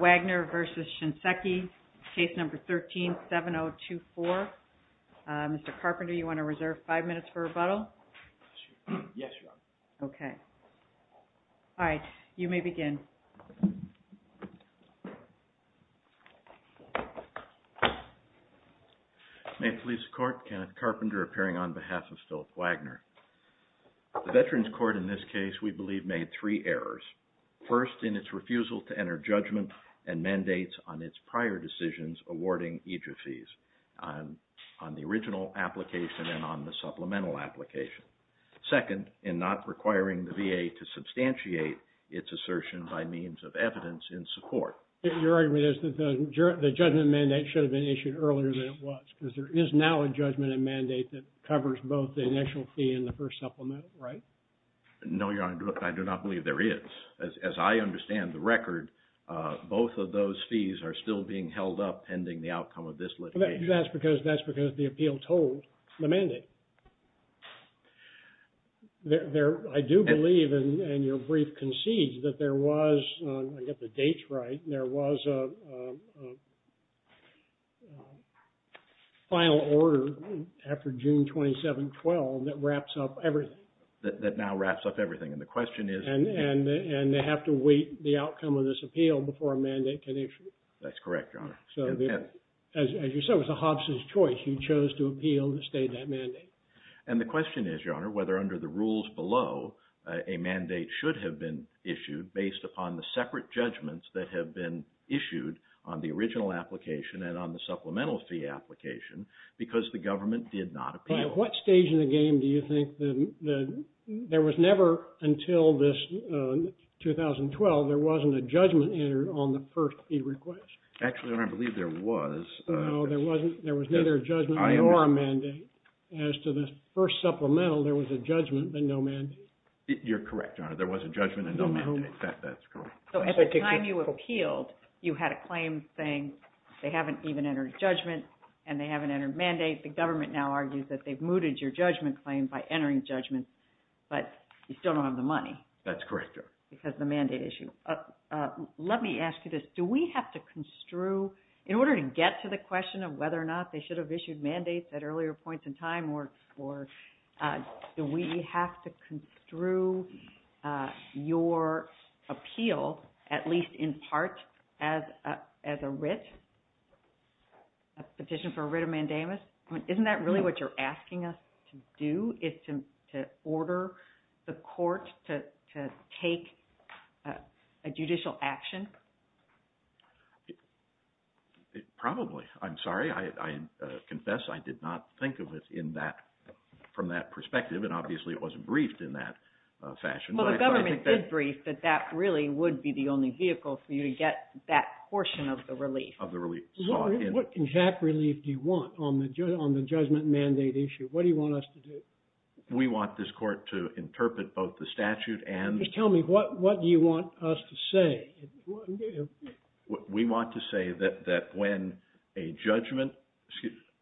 WAGNER v. SHINSEKI, Case No. 13-7024. Mr. Carpenter, do you want to reserve five minutes for rebuttal? Yes, Your Honor. Okay. All right, you may begin. May it please the Court, Kenneth Carpenter appearing on behalf of Philip Wagner. The Veterans Court in this case, we believe, made three errors. First, in its refusal to enter judgment and mandates on its prior decisions awarding EJIA fees on the original application and on the supplemental application. Second, in not requiring the VA to substantiate its assertion by means of evidence in support. Your argument is that the judgment mandate should have been issued earlier than it was. Because there is now a judgment and mandate that covers both the initial fee and the first supplemental, right? No, Your Honor, I do not believe there is. As I understand the record, both of those fees are still being held up pending the outcome of this litigation. That's because the appeals hold the mandate. I do believe, and your brief concedes, that there was, I get the dates right, there was a final order after June 27, 2012 that wraps up everything. That now wraps up everything. And the question is? And they have to wait the outcome of this appeal before a mandate can issue. That's correct, Your Honor. As you said, it was a Hobson's choice. He chose to appeal and state that mandate. And the question is, Your Honor, whether under the rules below, a mandate should have been issued based upon the separate judgments that have been issued on the original application and on the supplemental fee application because the government did not appeal. At what stage in the game do you think that there was never, until this 2012, there wasn't a judgment entered on the first fee request? Actually, Your Honor, I believe there was. No, there wasn't. There was neither a judgment nor a mandate. As to the first supplemental, there was a judgment and no mandate. You're correct, Your Honor. There was a judgment and no mandate. In fact, that's correct. So at the time you appealed, you had a claim saying they haven't even entered judgment and they haven't entered mandate. The government now argues that they've mooted your judgment claim by entering judgment, but you still don't have the money. That's correct, Your Honor. Because the mandate issue. Let me ask you this. Do we have to construe, in order to get to the question of whether or not they should have issued mandates at earlier points in time, or do we have to construe your appeal, at least in part, as a writ, a petition for a writ of mandamus? Isn't that really what you're asking us to do, is to order the court to take a judicial action? Probably. I'm sorry. I confess I did not think of it from that perspective, and obviously it wasn't briefed in that fashion. Well, the government did brief that that really would be the only vehicle for you to get that portion of the relief. What exact relief do you want on the judgment mandate issue? What do you want us to do? We want this court to interpret both the statute and... Just tell me, what do you want us to say? We want to say that when a judgment,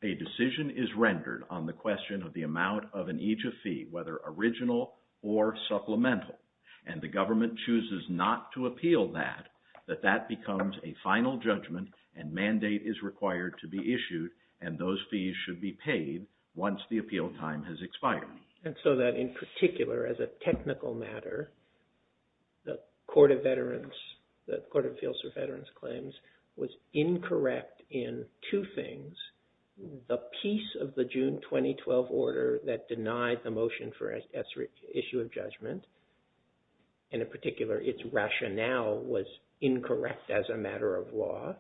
a decision is rendered on the question of the amount of an aegis fee, whether original or supplemental, and the government chooses not to appeal that, that that becomes a final judgment and mandate is required to be issued, and those fees should be paid once the appeal time has expired. And so that in particular, as a technical matter, the Court of Veterans, the Court of Appeals for Veterans Claims, was incorrect in two things. The piece of the June 2012 order that denied the motion for issue of judgment, and in particular, its rationale was incorrect as a matter of law.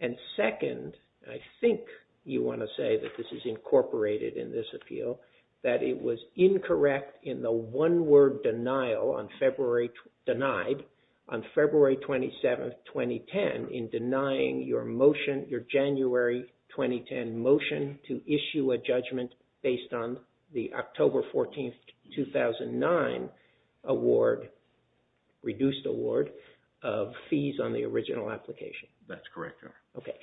And second, I think you want to say that this is incorporated in this appeal, that it was incorrect in the one-word denial on February, denied on February 27, 2010, in denying your motion, your January 2010 motion to issue a judgment based on the October 14, 2009 award, reduced award, of fees on the original application. Okay.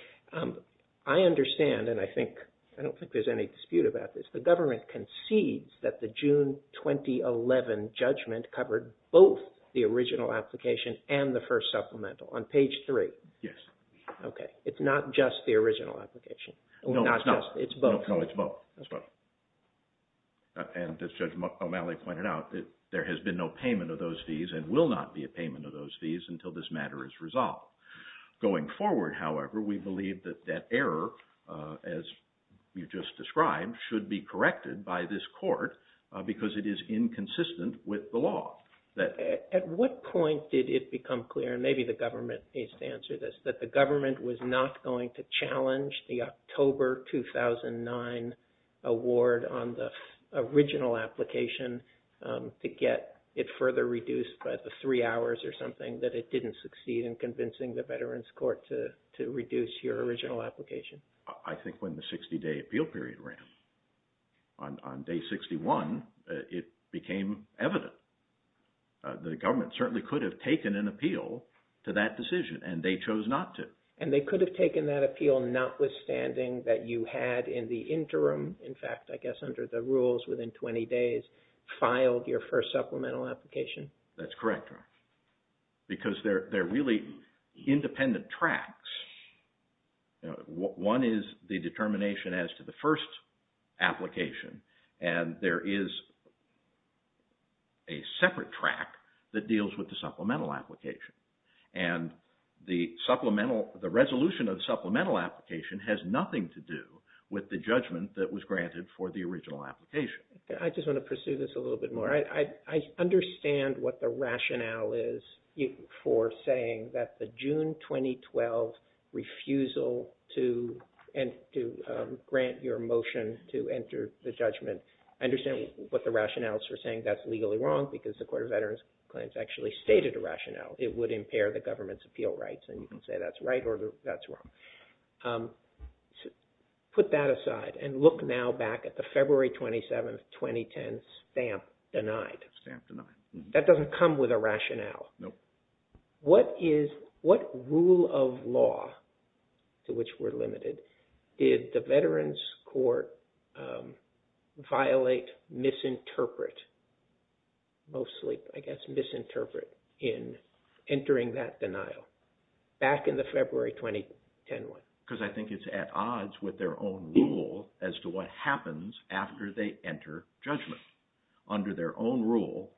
I understand, and I think, I don't think there's any dispute about this. The government concedes that the June 2011 judgment covered both the original application and the first supplemental on page three. Yes. Okay. It's not just the original application. No, it's not. It's both. No, it's both. And as Judge O'Malley pointed out, there has been no payment of those fees and will not be a payment of those fees until this matter is resolved. Going forward, however, we believe that that error, as you just described, should be corrected by this court because it is inconsistent with the law. At what point did it become clear, and maybe the government needs to answer this, that the government was not going to challenge the October 2009 award on the original application to get it further reduced by the three hours or something, that it didn't succeed in convincing the Veterans Court to reduce your original application? I think when the 60-day appeal period ran. On day 61, it became evident. The government certainly could have taken an appeal to that decision, and they chose not to. And they could have taken that appeal notwithstanding that you had in the interim, in fact, I guess under the rules, within 20 days, filed your first supplemental application? That's correct. Because they're really independent tracks. One is the determination as to the first application, and there is a separate track that deals with the supplemental application. And the resolution of the supplemental application has nothing to do with the judgment that was granted for the original application. I just want to pursue this a little bit more. I understand what the rationale is for saying that the June 2012 refusal to grant your motion to enter the judgment. I understand what the rationale is for saying that's legally wrong because the Court of Veterans Claims actually stated a rationale. It would impair the government's appeal rights, and you can say that's right or that's wrong. Put that aside and look now back at the February 27, 2010 stamp denied. Stamp denied. That doesn't come with a rationale. No. What rule of law, to which we're limited, did the Veterans Court violate, misinterpret, mostly, I guess, misinterpret in entering that denial back in the February 2010 one? Because I think it's at odds with their own rule as to what happens after they enter judgment. Under their own rule,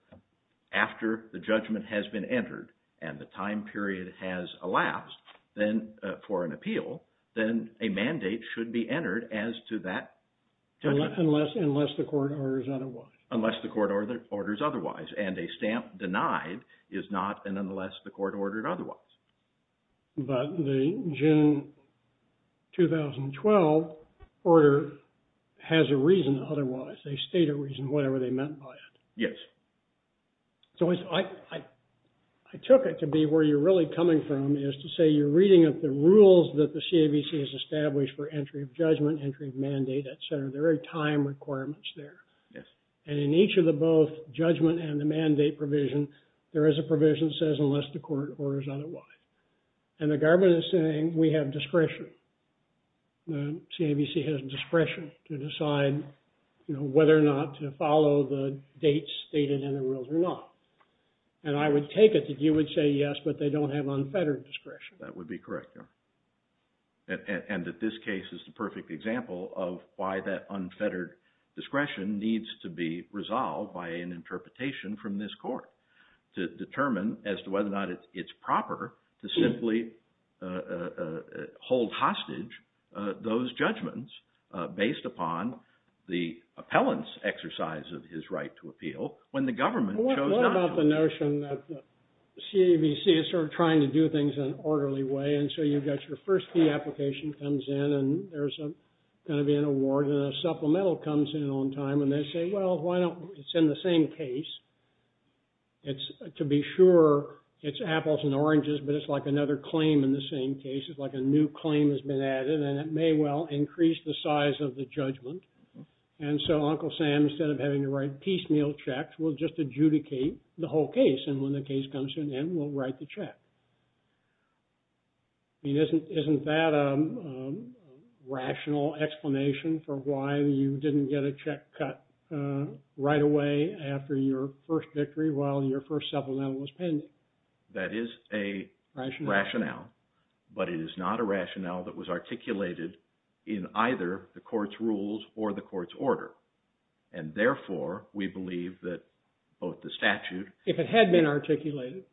after the judgment has been entered and the time period has elapsed for an appeal, then a mandate should be entered as to that judgment. Unless the court orders otherwise. Unless the court orders otherwise. And a stamp denied is not an unless the court ordered otherwise. But the June 2012 order has a reason otherwise. They state a reason whatever they meant by it. Yes. So I took it to be where you're really coming from is to say you're reading up the rules that the CAVC has established for entry of judgment, entry of mandate, et cetera. There are time requirements there. Yes. And in each of the both judgment and the mandate provision, there is a provision that says unless the court orders otherwise. And the government is saying we have discretion. The CAVC has discretion to decide whether or not to follow the dates stated in the rules or not. And I would take it that you would say yes, but they don't have unfettered discretion. That would be correct, Your Honor. And that this case is the perfect example of why that unfettered discretion needs to be resolved by an interpretation from this court to determine as to whether or not it's proper to simply hold hostage those judgments based upon the appellant's exercise of his right to appeal when the government chose not to. I like the notion that the CAVC is sort of trying to do things in an orderly way. And so you've got your first fee application comes in, and there's going to be an award, and a supplemental comes in on time. And they say, well, why don't we send the same case? To be sure, it's apples and oranges, but it's like another claim in the same case. It's like a new claim has been added, and it may well increase the size of the judgment. And so Uncle Sam, instead of having to write piecemeal checks, will just adjudicate the whole case. And when the case comes to an end, we'll write the check. I mean, isn't that a rational explanation for why you didn't get a check cut right away after your first victory while your first supplemental was pending? That is a rationale, but it is not a rationale that was articulated in either the court's rules or the court's order. And therefore, we believe that both the statute… If it had been articulated?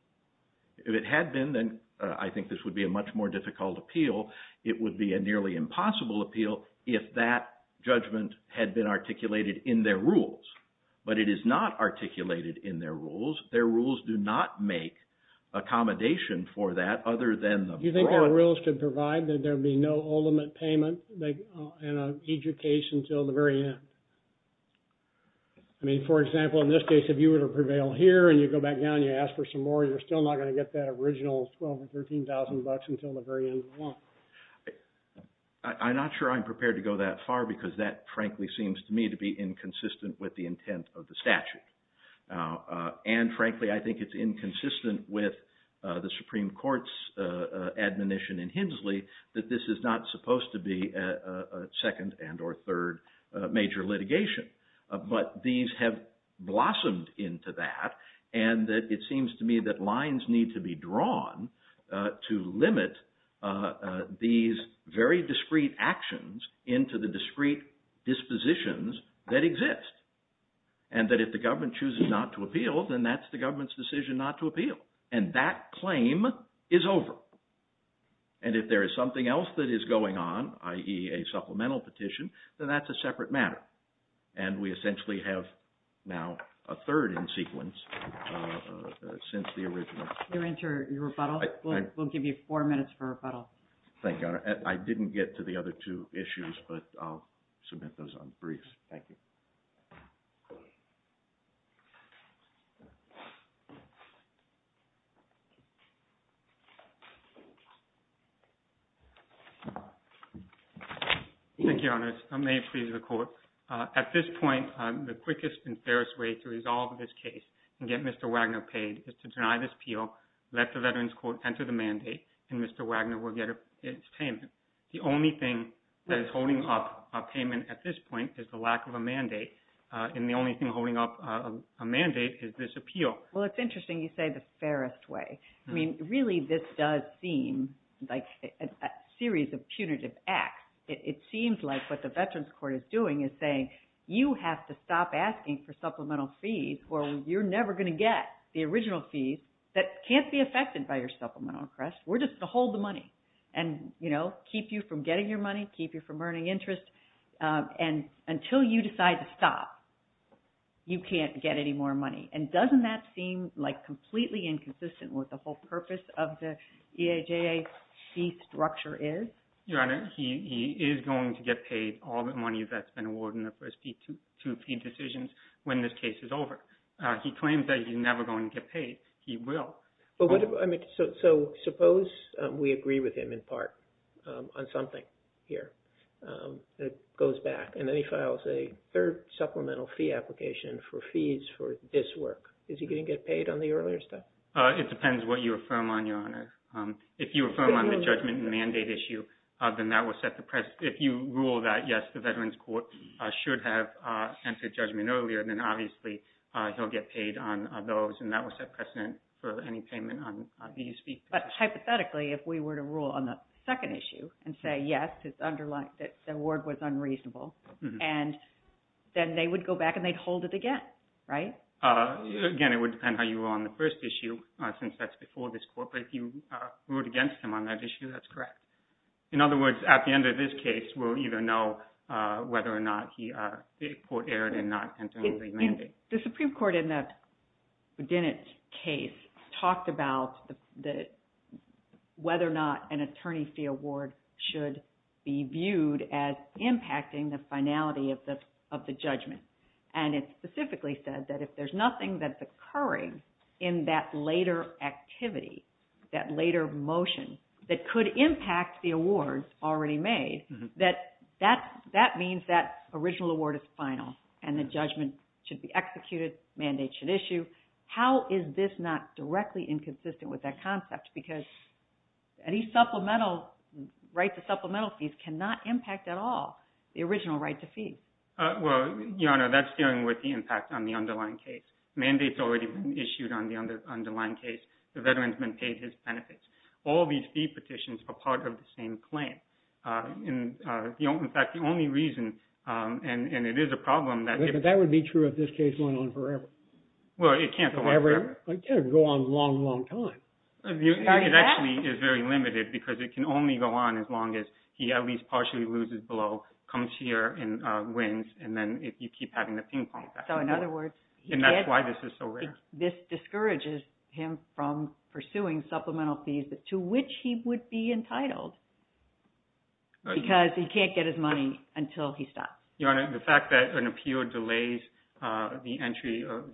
If it had been, then I think this would be a much more difficult appeal. It would be a nearly impossible appeal if that judgment had been articulated in their rules. But it is not articulated in their rules. Their rules do not make accommodation for that other than the… Do you think their rules could provide that there would be no ultimate payment in each case until the very end? I mean, for example, in this case, if you were to prevail here and you go back down and you ask for some more, you're still not going to get that original $12,000 or $13,000 until the very end of the month. I'm not sure I'm prepared to go that far because that, frankly, seems to me to be inconsistent with the intent of the statute. And frankly, I think it's inconsistent with the Supreme Court's admonition in Hensley that this is not supposed to be a second and or third major litigation. But these have blossomed into that, and it seems to me that lines need to be drawn to limit these very discrete actions into the discrete dispositions that exist. And that if the government chooses not to appeal, then that's the government's decision not to appeal. And that claim is over. And if there is something else that is going on, i.e., a supplemental petition, then that's a separate matter. And we essentially have now a third in sequence since the original. You're into your rebuttal? We'll give you four minutes for rebuttal. Thank you. I didn't get to the other two issues, but I'll submit those on the briefs. Thank you. Thank you, Your Honor. May it please the Court. At this point, the quickest and fairest way to resolve this case and get Mr. Wagner paid is to deny this appeal, let the Veterans Court enter the mandate, and Mr. Wagner will get his payment. The only thing that is holding up a payment at this point is the lack of a mandate, and the only thing holding up a mandate is this appeal. Well, it's interesting you say the fairest way. I mean, really this does seem like a series of punitive acts. It seems like what the Veterans Court is doing is saying you have to stop asking for supplemental fees or you're never going to get the original fees that can't be affected by your supplemental request. We're just to hold the money and, you know, keep you from getting your money, keep you from earning interest, and until you decide to stop, you can't get any more money. And doesn't that seem like completely inconsistent with the whole purpose of the EAJA fee structure is? Your Honor, he is going to get paid all the money that's been awarded in the first two decisions when this case is over. He claims that he's never going to get paid. He will. So suppose we agree with him in part on something here. It goes back, and then he files a third supplemental fee application for fees for this work. Is he going to get paid on the earlier stuff? It depends what you affirm on, Your Honor. If you affirm on the judgment and mandate issue, then that will set the precedent. If you rule that, yes, the Veterans Court should have entered judgment earlier, then obviously he'll get paid on those, and that will set precedent for any payment on these fees. But hypothetically, if we were to rule on the second issue and say, yes, the award was unreasonable, and then they would go back and they'd hold it again, right? Again, it would depend how you were on the first issue since that's before this Court. But if you ruled against him on that issue, that's correct. In other words, at the end of this case, we'll either know whether or not the Court erred in not entering the mandate. The Supreme Court in the Boudinot case talked about whether or not an attorney fee award should be viewed as impacting the finality of the judgment. And it specifically said that if there's nothing that's occurring in that later activity, that later motion, that could impact the awards already made, that that means that original award is final and the judgment should be executed, mandate should issue. How is this not directly inconsistent with that concept? Because any supplemental right to supplemental fees cannot impact at all the original right to fees. Well, Your Honor, that's dealing with the impact on the underlying case. Mandate's already been issued on the underlying case. The veteran's been paid his benefits. All these fee petitions are part of the same claim. In fact, the only reason, and it is a problem that… But that would be true of this case going on forever. Well, it can't go on forever. It can't go on a long, long time. It actually is very limited because it can only go on as long as he at least partially loses below, comes here and wins, and then you keep having the ping pong. So in other words… And that's why this is so rare. This discourages him from pursuing supplemental fees to which he would be entitled because he can't get his money until he's stopped. Your Honor, the fact that an appeal delays the entry or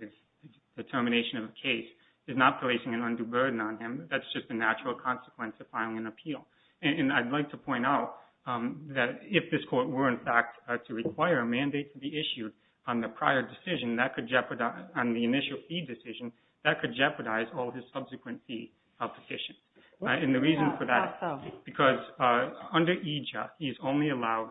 the termination of a case is not placing an undue burden on him. That's just a natural consequence of filing an appeal. And I'd like to point out that if this court were, in fact, to require a mandate to be issued on the prior decision, that could jeopardize… on the initial fee decision, that could jeopardize all his subsequent fee petitions. And the reason for that is because under EJA, he is only allowed…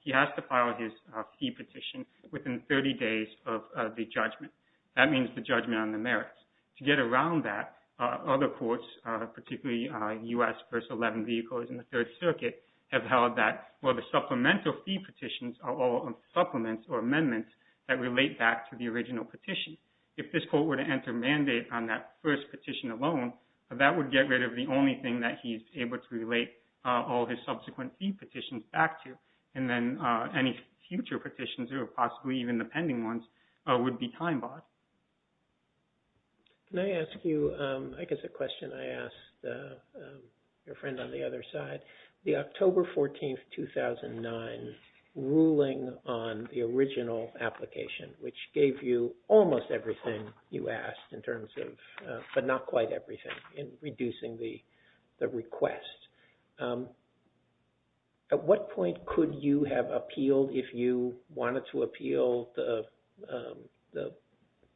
He has to file his fee petition within 30 days of the judgment. That means the judgment on the merits. To get around that, other courts, particularly U.S. First 11 Vehicles and the Third Circuit, have held that, well, the supplemental fee petitions are all supplements or amendments that relate back to the original petition. If this court were to enter a mandate on that first petition alone, that would get rid of the only thing that he's able to relate all his subsequent fee petitions back to. And then any future petitions, or possibly even the pending ones, would be time-barred. Can I ask you, I guess, a question I asked your friend on the other side? The October 14, 2009 ruling on the original application, which gave you almost everything you asked in terms of, but not quite everything, in reducing the request. At what point could you have appealed if you wanted to appeal the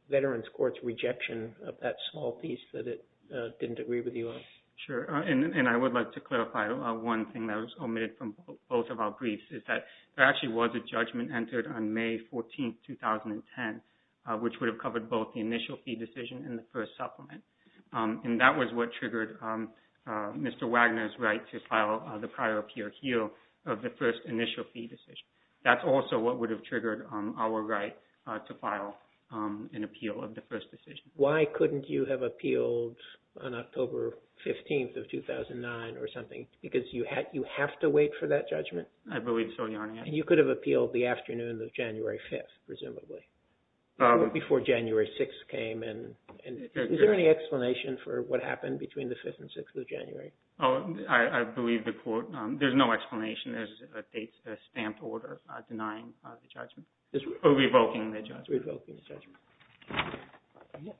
Veterans Court's rejection of that small piece that it didn't agree with you on? Sure. And I would like to clarify one thing that was omitted from both of our briefs, is that there actually was a judgment entered on May 14, 2010, which would have covered both the initial fee decision and the first supplement. And that was what triggered Mr. Wagner's right to file the prior appeal of the first initial fee decision. That's also what would have triggered our right to file an appeal of the first decision. Why couldn't you have appealed on October 15, 2009 or something? Because you have to wait for that judgment? I believe so, Your Honor. And you could have appealed the afternoon of January 5, presumably. Before January 6 came in. Is there any explanation for what happened between the 5th and 6th of January? I believe the court, there's no explanation. There's a stamped order denying the judgment, or revoking the judgment. Revoking the judgment.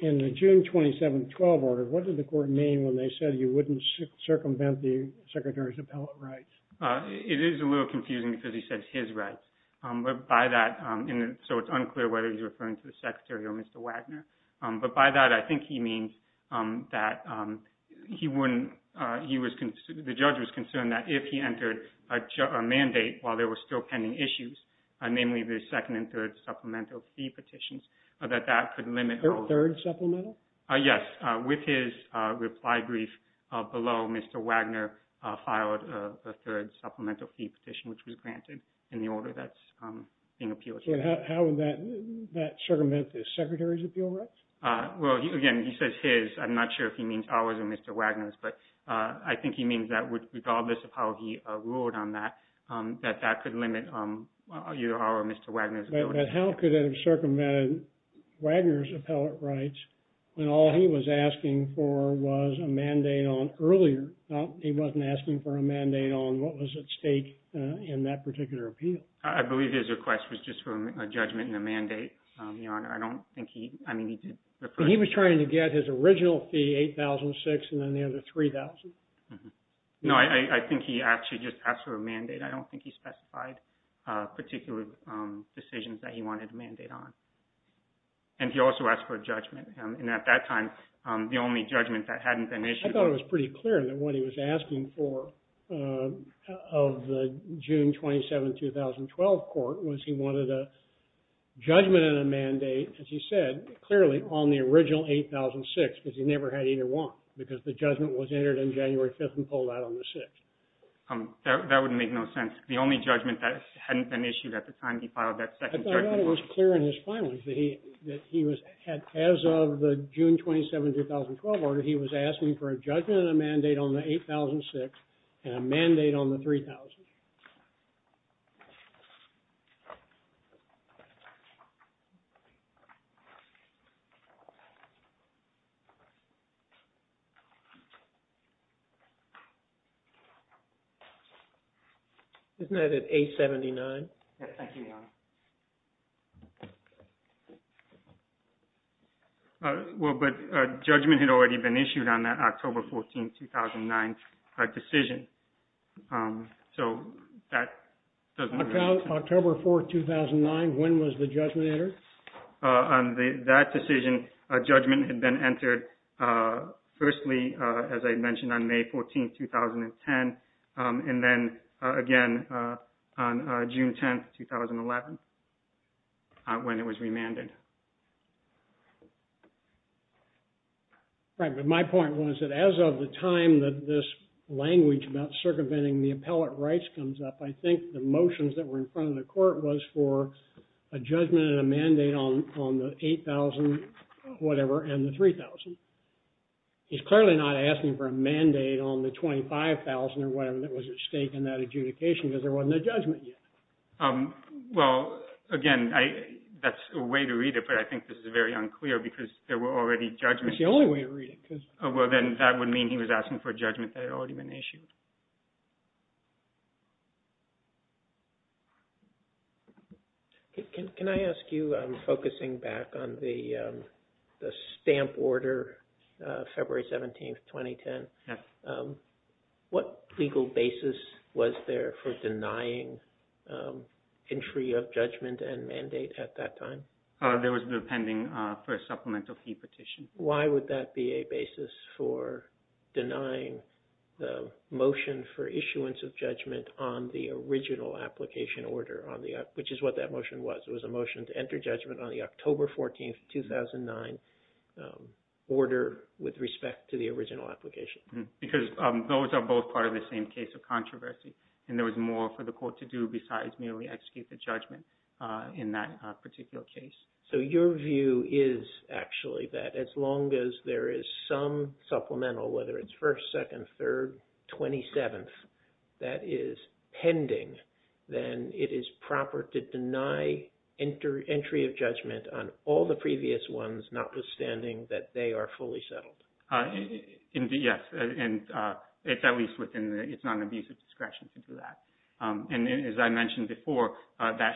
In the June 27, 2012 order, what did the court mean when they said you wouldn't circumvent the Secretary's appellate rights? It is a little confusing because he said his rights. But by that, so it's unclear whether he's referring to the Secretary or Mr. Wagner. But by that, I think he means that he wouldn't, he was, the judge was concerned that if he entered a mandate while there were still pending issues, namely the second and third supplemental fee petitions, that that could limit. Third supplemental? Yes. With his reply brief below, Mr. Wagner filed a third supplemental fee petition, which was granted in the order that's being appealed here. How would that circumvent the Secretary's appeal rights? Well, again, he says his. I'm not sure if he means ours or Mr. Wagner's. But I think he means that regardless of how he ruled on that, that that could limit either our or Mr. Wagner's appeal rights. But how could that have circumvented Wagner's appellate rights when all he was asking for was a mandate on earlier? He wasn't asking for a mandate on what was at stake in that particular appeal. I believe his request was just for a judgment and a mandate, Your Honor. I don't think he, I mean, he did. He was trying to get his original fee, $8,006, and then the other $3,000. I don't think he specified particular decisions that he wanted a mandate on. And he also asked for a judgment. And at that time, the only judgment that hadn't been issued. I thought it was pretty clear that what he was asking for of the June 27, 2012 court was he wanted a judgment and a mandate, as he said, clearly on the original $8,006 because he never had either one because the judgment was entered on January 5th and pulled out on the 6th. That would make no sense. The only judgment that hadn't been issued at the time he filed that second judgment was. I thought it was clear in his filing that he was, as of the June 27, 2012 order, that he was asking for a judgment and a mandate on the $8,006 and a mandate on the $3,000. Isn't that at $879? Well, but a judgment had already been issued on that October 14, 2009 decision. So that doesn't make sense. October 4, 2009, when was the judgment entered? On that decision, a judgment had been entered firstly, as I mentioned, on May 14, 2010, and then again on June 10, 2011, when it was remanded. Right, but my point was that as of the time that this language about circumventing the appellate rights comes up, I think the motions that were in front of the court was for a judgment and a mandate on the $8,000, whatever, and the $3,000. He's clearly not asking for a mandate on the $25,000 or whatever that was at stake in that adjudication because there wasn't a judgment yet. Well, again, that's a way to read it, but I think this is very unclear because there were already judgments. It's the only way to read it. Well, then that would mean he was asking for a judgment that had already been issued. Can I ask you, focusing back on the stamp order, February 17, 2010, what legal basis was there for denying entry of judgment and mandate at that time? There was no pending for a supplemental fee petition. Why would that be a basis for denying the motion for issuance of judgment on the original application order, which is what that motion was? It was a motion to enter judgment on the October 14, 2009, order with respect to the original application. Because those are both part of the same case of controversy, and there was more for the court to do besides merely execute the judgment in that particular case. So your view is actually that as long as there is some supplemental, whether it's 1st, 2nd, 3rd, 27th, that is pending, then it is proper to deny entry of judgment on all the previous ones, notwithstanding that they are fully settled. Yes, and it's at least within the non-abusive discretion to do that. And as I mentioned before, that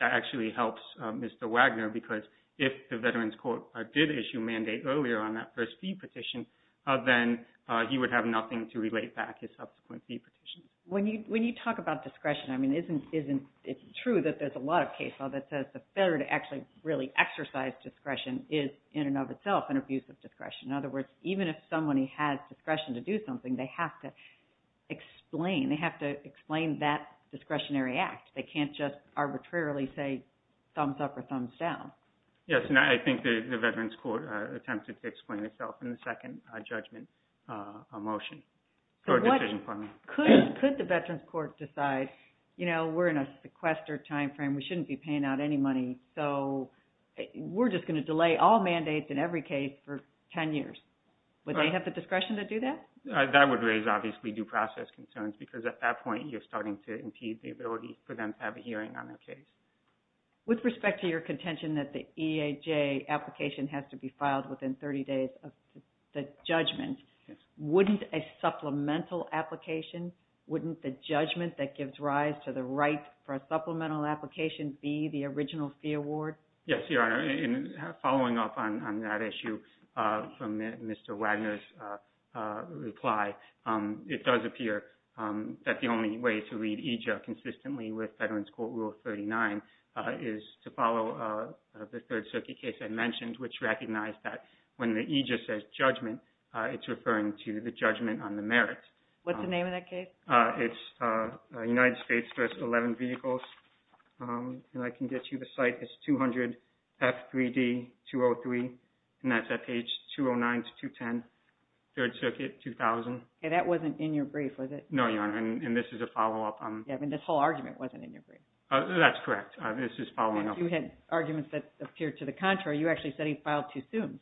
actually helps Mr. Wagner, because if the Veterans Court did issue mandate earlier on that first fee petition, then he would have nothing to relate back his subsequent fee petition. When you talk about discretion, I mean, it's true that there's a lot of case law that says the failure to actually really exercise discretion is in and of itself an abusive discretion. In other words, even if somebody has discretion to do something, they have to explain, they have to explain that discretionary act. They can't just arbitrarily say thumbs up or thumbs down. Yes, and I think the Veterans Court attempted to explain itself in the second judgment motion. Could the Veterans Court decide, you know, we're in a sequestered timeframe, we shouldn't be paying out any money, so we're just going to delay all mandates in every case for 10 years. Would they have the discretion to do that? That would raise, obviously, due process concerns, because at that point, you're starting to impede the ability for them to have a hearing on their case. With respect to your contention that the EAJ application has to be filed within 30 days of the judgment, wouldn't a supplemental application, wouldn't the judgment that gives rise to the right for a supplemental application be the original fee award? Yes, Your Honor, and following up on that issue from Mr. Wagner's reply, it does appear that the only way to read EJA consistently with Veterans Court Rule 39 is to follow the Third Circuit case I mentioned, which recognized that when the EJA says judgment, it's referring to the judgment on the merits. What's the name of that case? It's United States Dressed 11 Vehicles, and I can get you the site. It's 200 F3D 203, and that's at page 209 to 210, Third Circuit, 2000. Okay, that wasn't in your brief, was it? No, Your Honor, and this is a follow-up. Yeah, but this whole argument wasn't in your brief. That's correct. This is following up. You had arguments that appeared to the contrary. You actually said he filed too soon.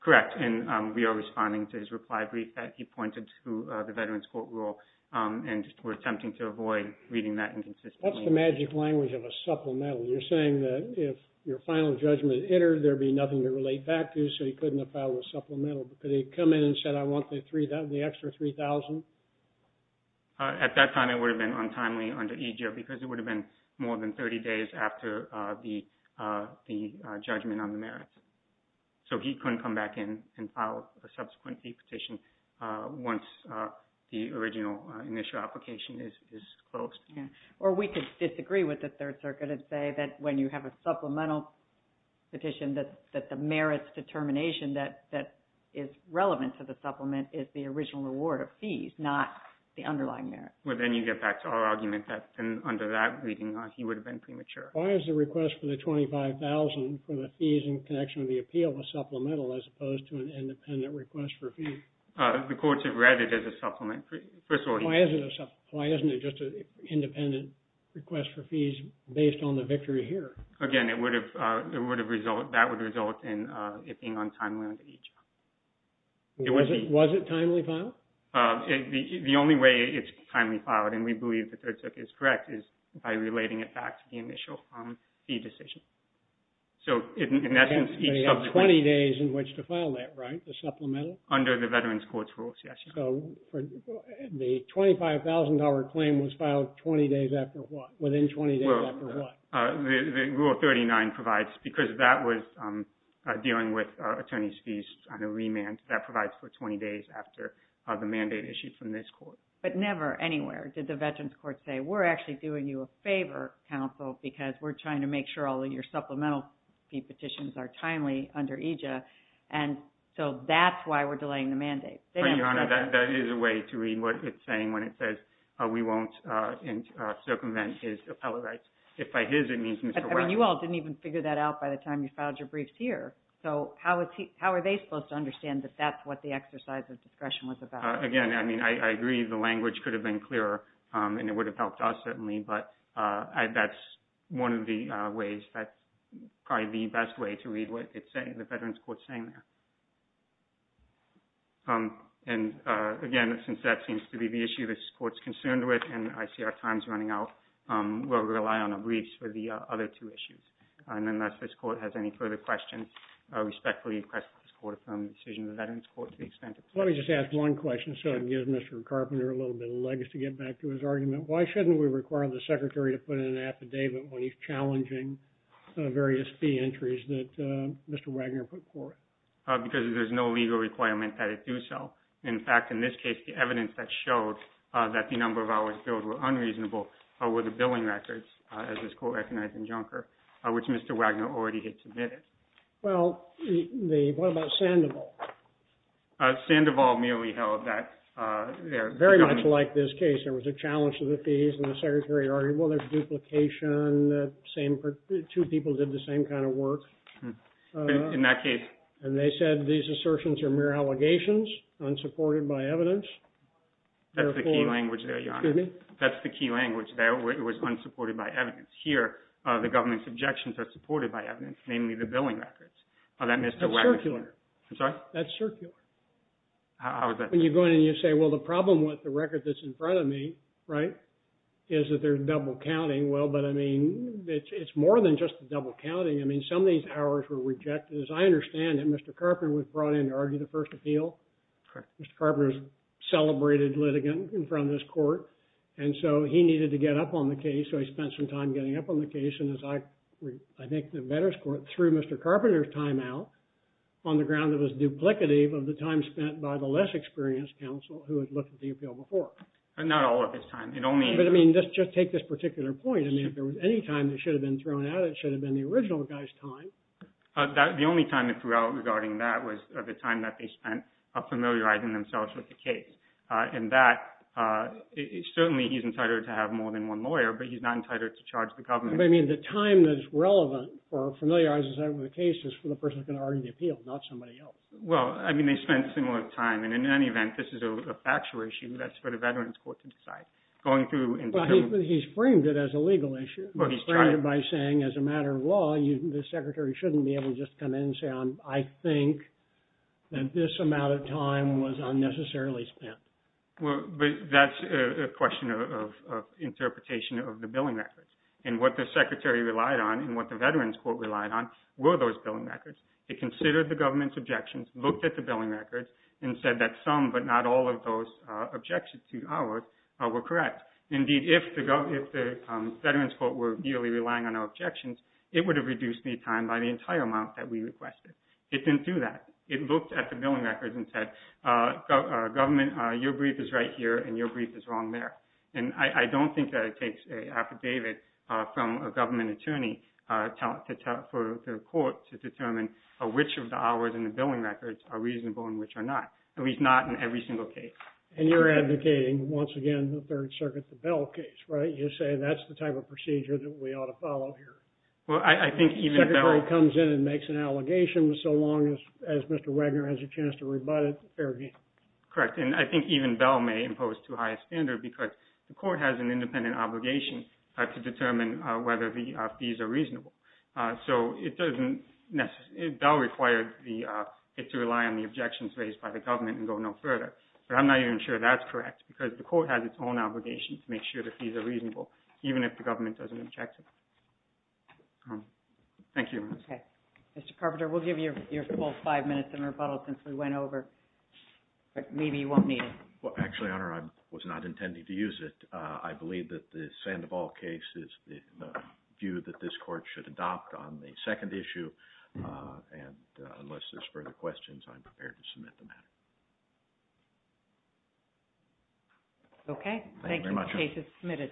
Correct, and we are responding to his reply brief that he pointed to the Veterans Court Rule, and we're attempting to avoid reading that inconsistently. That's the magic language of a supplemental. You're saying that if your final judgment entered, there'd be nothing to relate back to, so he couldn't have filed a supplemental. But could he have come in and said, I want the extra $3,000? At that time, it would have been untimely under EJA, because it would have been more than 30 days after the judgment on the merits. So he couldn't come back in and file a subsequent fee petition once the original initial application is closed. Or we could disagree with the Third Circuit and say that when you have a supplemental petition, that the merits determination that is relevant to the supplement is the original award of fees, not the underlying merits. Well, then you get back to our argument that under that reading, he would have been premature. Why is the request for the $25,000 for the fees in connection with the appeal a supplemental as opposed to an independent request for fees? The courts have read it as a supplement. First of all, he... Why isn't it a supplement? Why isn't it just an independent request for fees based on the victory here? Again, that would result in it being untimely under EJA. Was it timely filed? The only way it's timely filed, and we believe the Third Circuit is correct, is by relating it back to the initial fee decision. So in essence, each subsequent... So you have 20 days in which to file that, right? The supplemental? Under the Veterans Courts rules, yes. So the $25,000 claim was filed 20 days after what? Within 20 days after what? Rule 39 provides, because that was dealing with attorney's fees on a remand. That provides for 20 days after the mandate issued from this court. But never anywhere did the Veterans Courts say, we're actually doing you a favor, counsel, because we're trying to make sure all of your supplemental fee petitions are timely under EJA. And so that's why we're delaying the mandate. Your Honor, that is a way to read what it's saying when it says, we won't circumvent his appellate rights. If by his, it means Mr. West. I mean, you all didn't even figure that out by the time you filed your briefs here. So how are they supposed to understand that that's what the exercise of discretion was about? Again, I mean, I agree the language could have been clearer, and it would have helped us certainly, but that's one of the ways, that's probably the best way to read what it's saying, the Veterans Courts saying there. And again, since that seems to be the issue this court's concerned with, and I see our time's running out, we'll rely on our briefs for the other two issues. And unless this court has any further questions, I respectfully request that this court affirm the decision of the Veterans Court to the extent it pleases. Let me just ask one question, so it gives Mr. Carpenter a little bit of legs to get back to his argument. Why shouldn't we require the secretary to put in an affidavit when he's challenging various fee entries that Mr. Wagner put forth? Because there's no legal requirement that it do so. In fact, in this case, the evidence that showed that the number of hours billed were unreasonable were the billing records, as this court recognized in Junker, which Mr. Wagner already had submitted. Well, what about Sandoval? Sandoval merely held that... Very much like this case, there was a challenge to the fees, and the secretary argued, well, there's duplication, two people did the same kind of work. In that case... And they said these assertions are mere allegations, unsupported by evidence. That's the key language there, Your Honor. That's the key language there, it was unsupported by evidence. Here, the government's objections are supported by evidence, namely the billing records that Mr. Wagner... That's circular. When you go in and you say, well, the problem with the record that's in front of me, right, is that there's double counting. Well, but I mean, it's more than just the double counting. I mean, some of these hours were rejected. As I understand it, Mr. Carpenter was brought in to argue the first appeal. Correct. Mr. Carpenter's celebrated litigant in front of this court, and so he needed to get up on the case, so he spent some time getting up on the case, and I think the Veterans Court threw Mr. Carpenter's time out on the ground that it was duplicative of the time spent by the less experienced counsel who had looked at the appeal before. Not all of his time, it only... But I mean, just take this particular point. I mean, if there was any time that should have been thrown out, it should have been the original guy's time. The only time they threw out regarding that was the time that they spent familiarizing themselves with the case, and that... Certainly, he's entitled to have more than one lawyer, but he's not entitled to charge the government. But I mean, the time that's relevant for familiarizing himself with the case is for the person who's going to argue the appeal, not somebody else. Well, I mean, they spent similar time, and in any event, this is a factual issue that's for the Veterans Court to decide. But he's framed it as a legal issue. He's framed it by saying, as a matter of law, the secretary shouldn't be able to just come in and say, I think that this amount of time was unnecessarily spent. Well, that's a question of interpretation of the billing records. And what the secretary relied on and what the Veterans Court relied on were those billing records. It considered the government's objections, looked at the billing records, and said that some, but not all, of those objections to ours were correct. Indeed, if the Veterans Court were really relying on our objections, it would have reduced the time by the entire amount that we requested. It didn't do that. It looked at the billing records and said, government, your brief is right here, and your brief is wrong there. And I don't think that it takes an affidavit from a government attorney for the court to determine which of the hours in the billing records are reasonable and which are not, at least not in every single case. And you're advocating, once again, the Third Circuit, the Bell case, right? You're saying that's the type of procedure that we ought to follow here. Well, I think even Bell... The secretary comes in and makes an allegation so long as Mr. Wagner has a chance to rebut it. Fair game. Correct. And I think even Bell may impose too high a standard because the court has an independent obligation to determine whether the fees are reasonable. So it doesn't necessarily... Bell required it to rely on the objections raised by the government and go no further. But I'm not even sure that's correct because the court has its own obligation to make sure the fees are reasonable based on the objections. Thank you, Your Honor. Okay. Mr. Carpenter, we'll give you your full five minutes in rebuttal since we went over. But maybe you won't need it. Well, actually, Your Honor, I was not intending to use it. I believe that the Sandoval case is the view that this court should adopt on the second issue. And unless there's further questions, I'm prepared to submit the matter. Okay. Thank you very much. The case is submitted.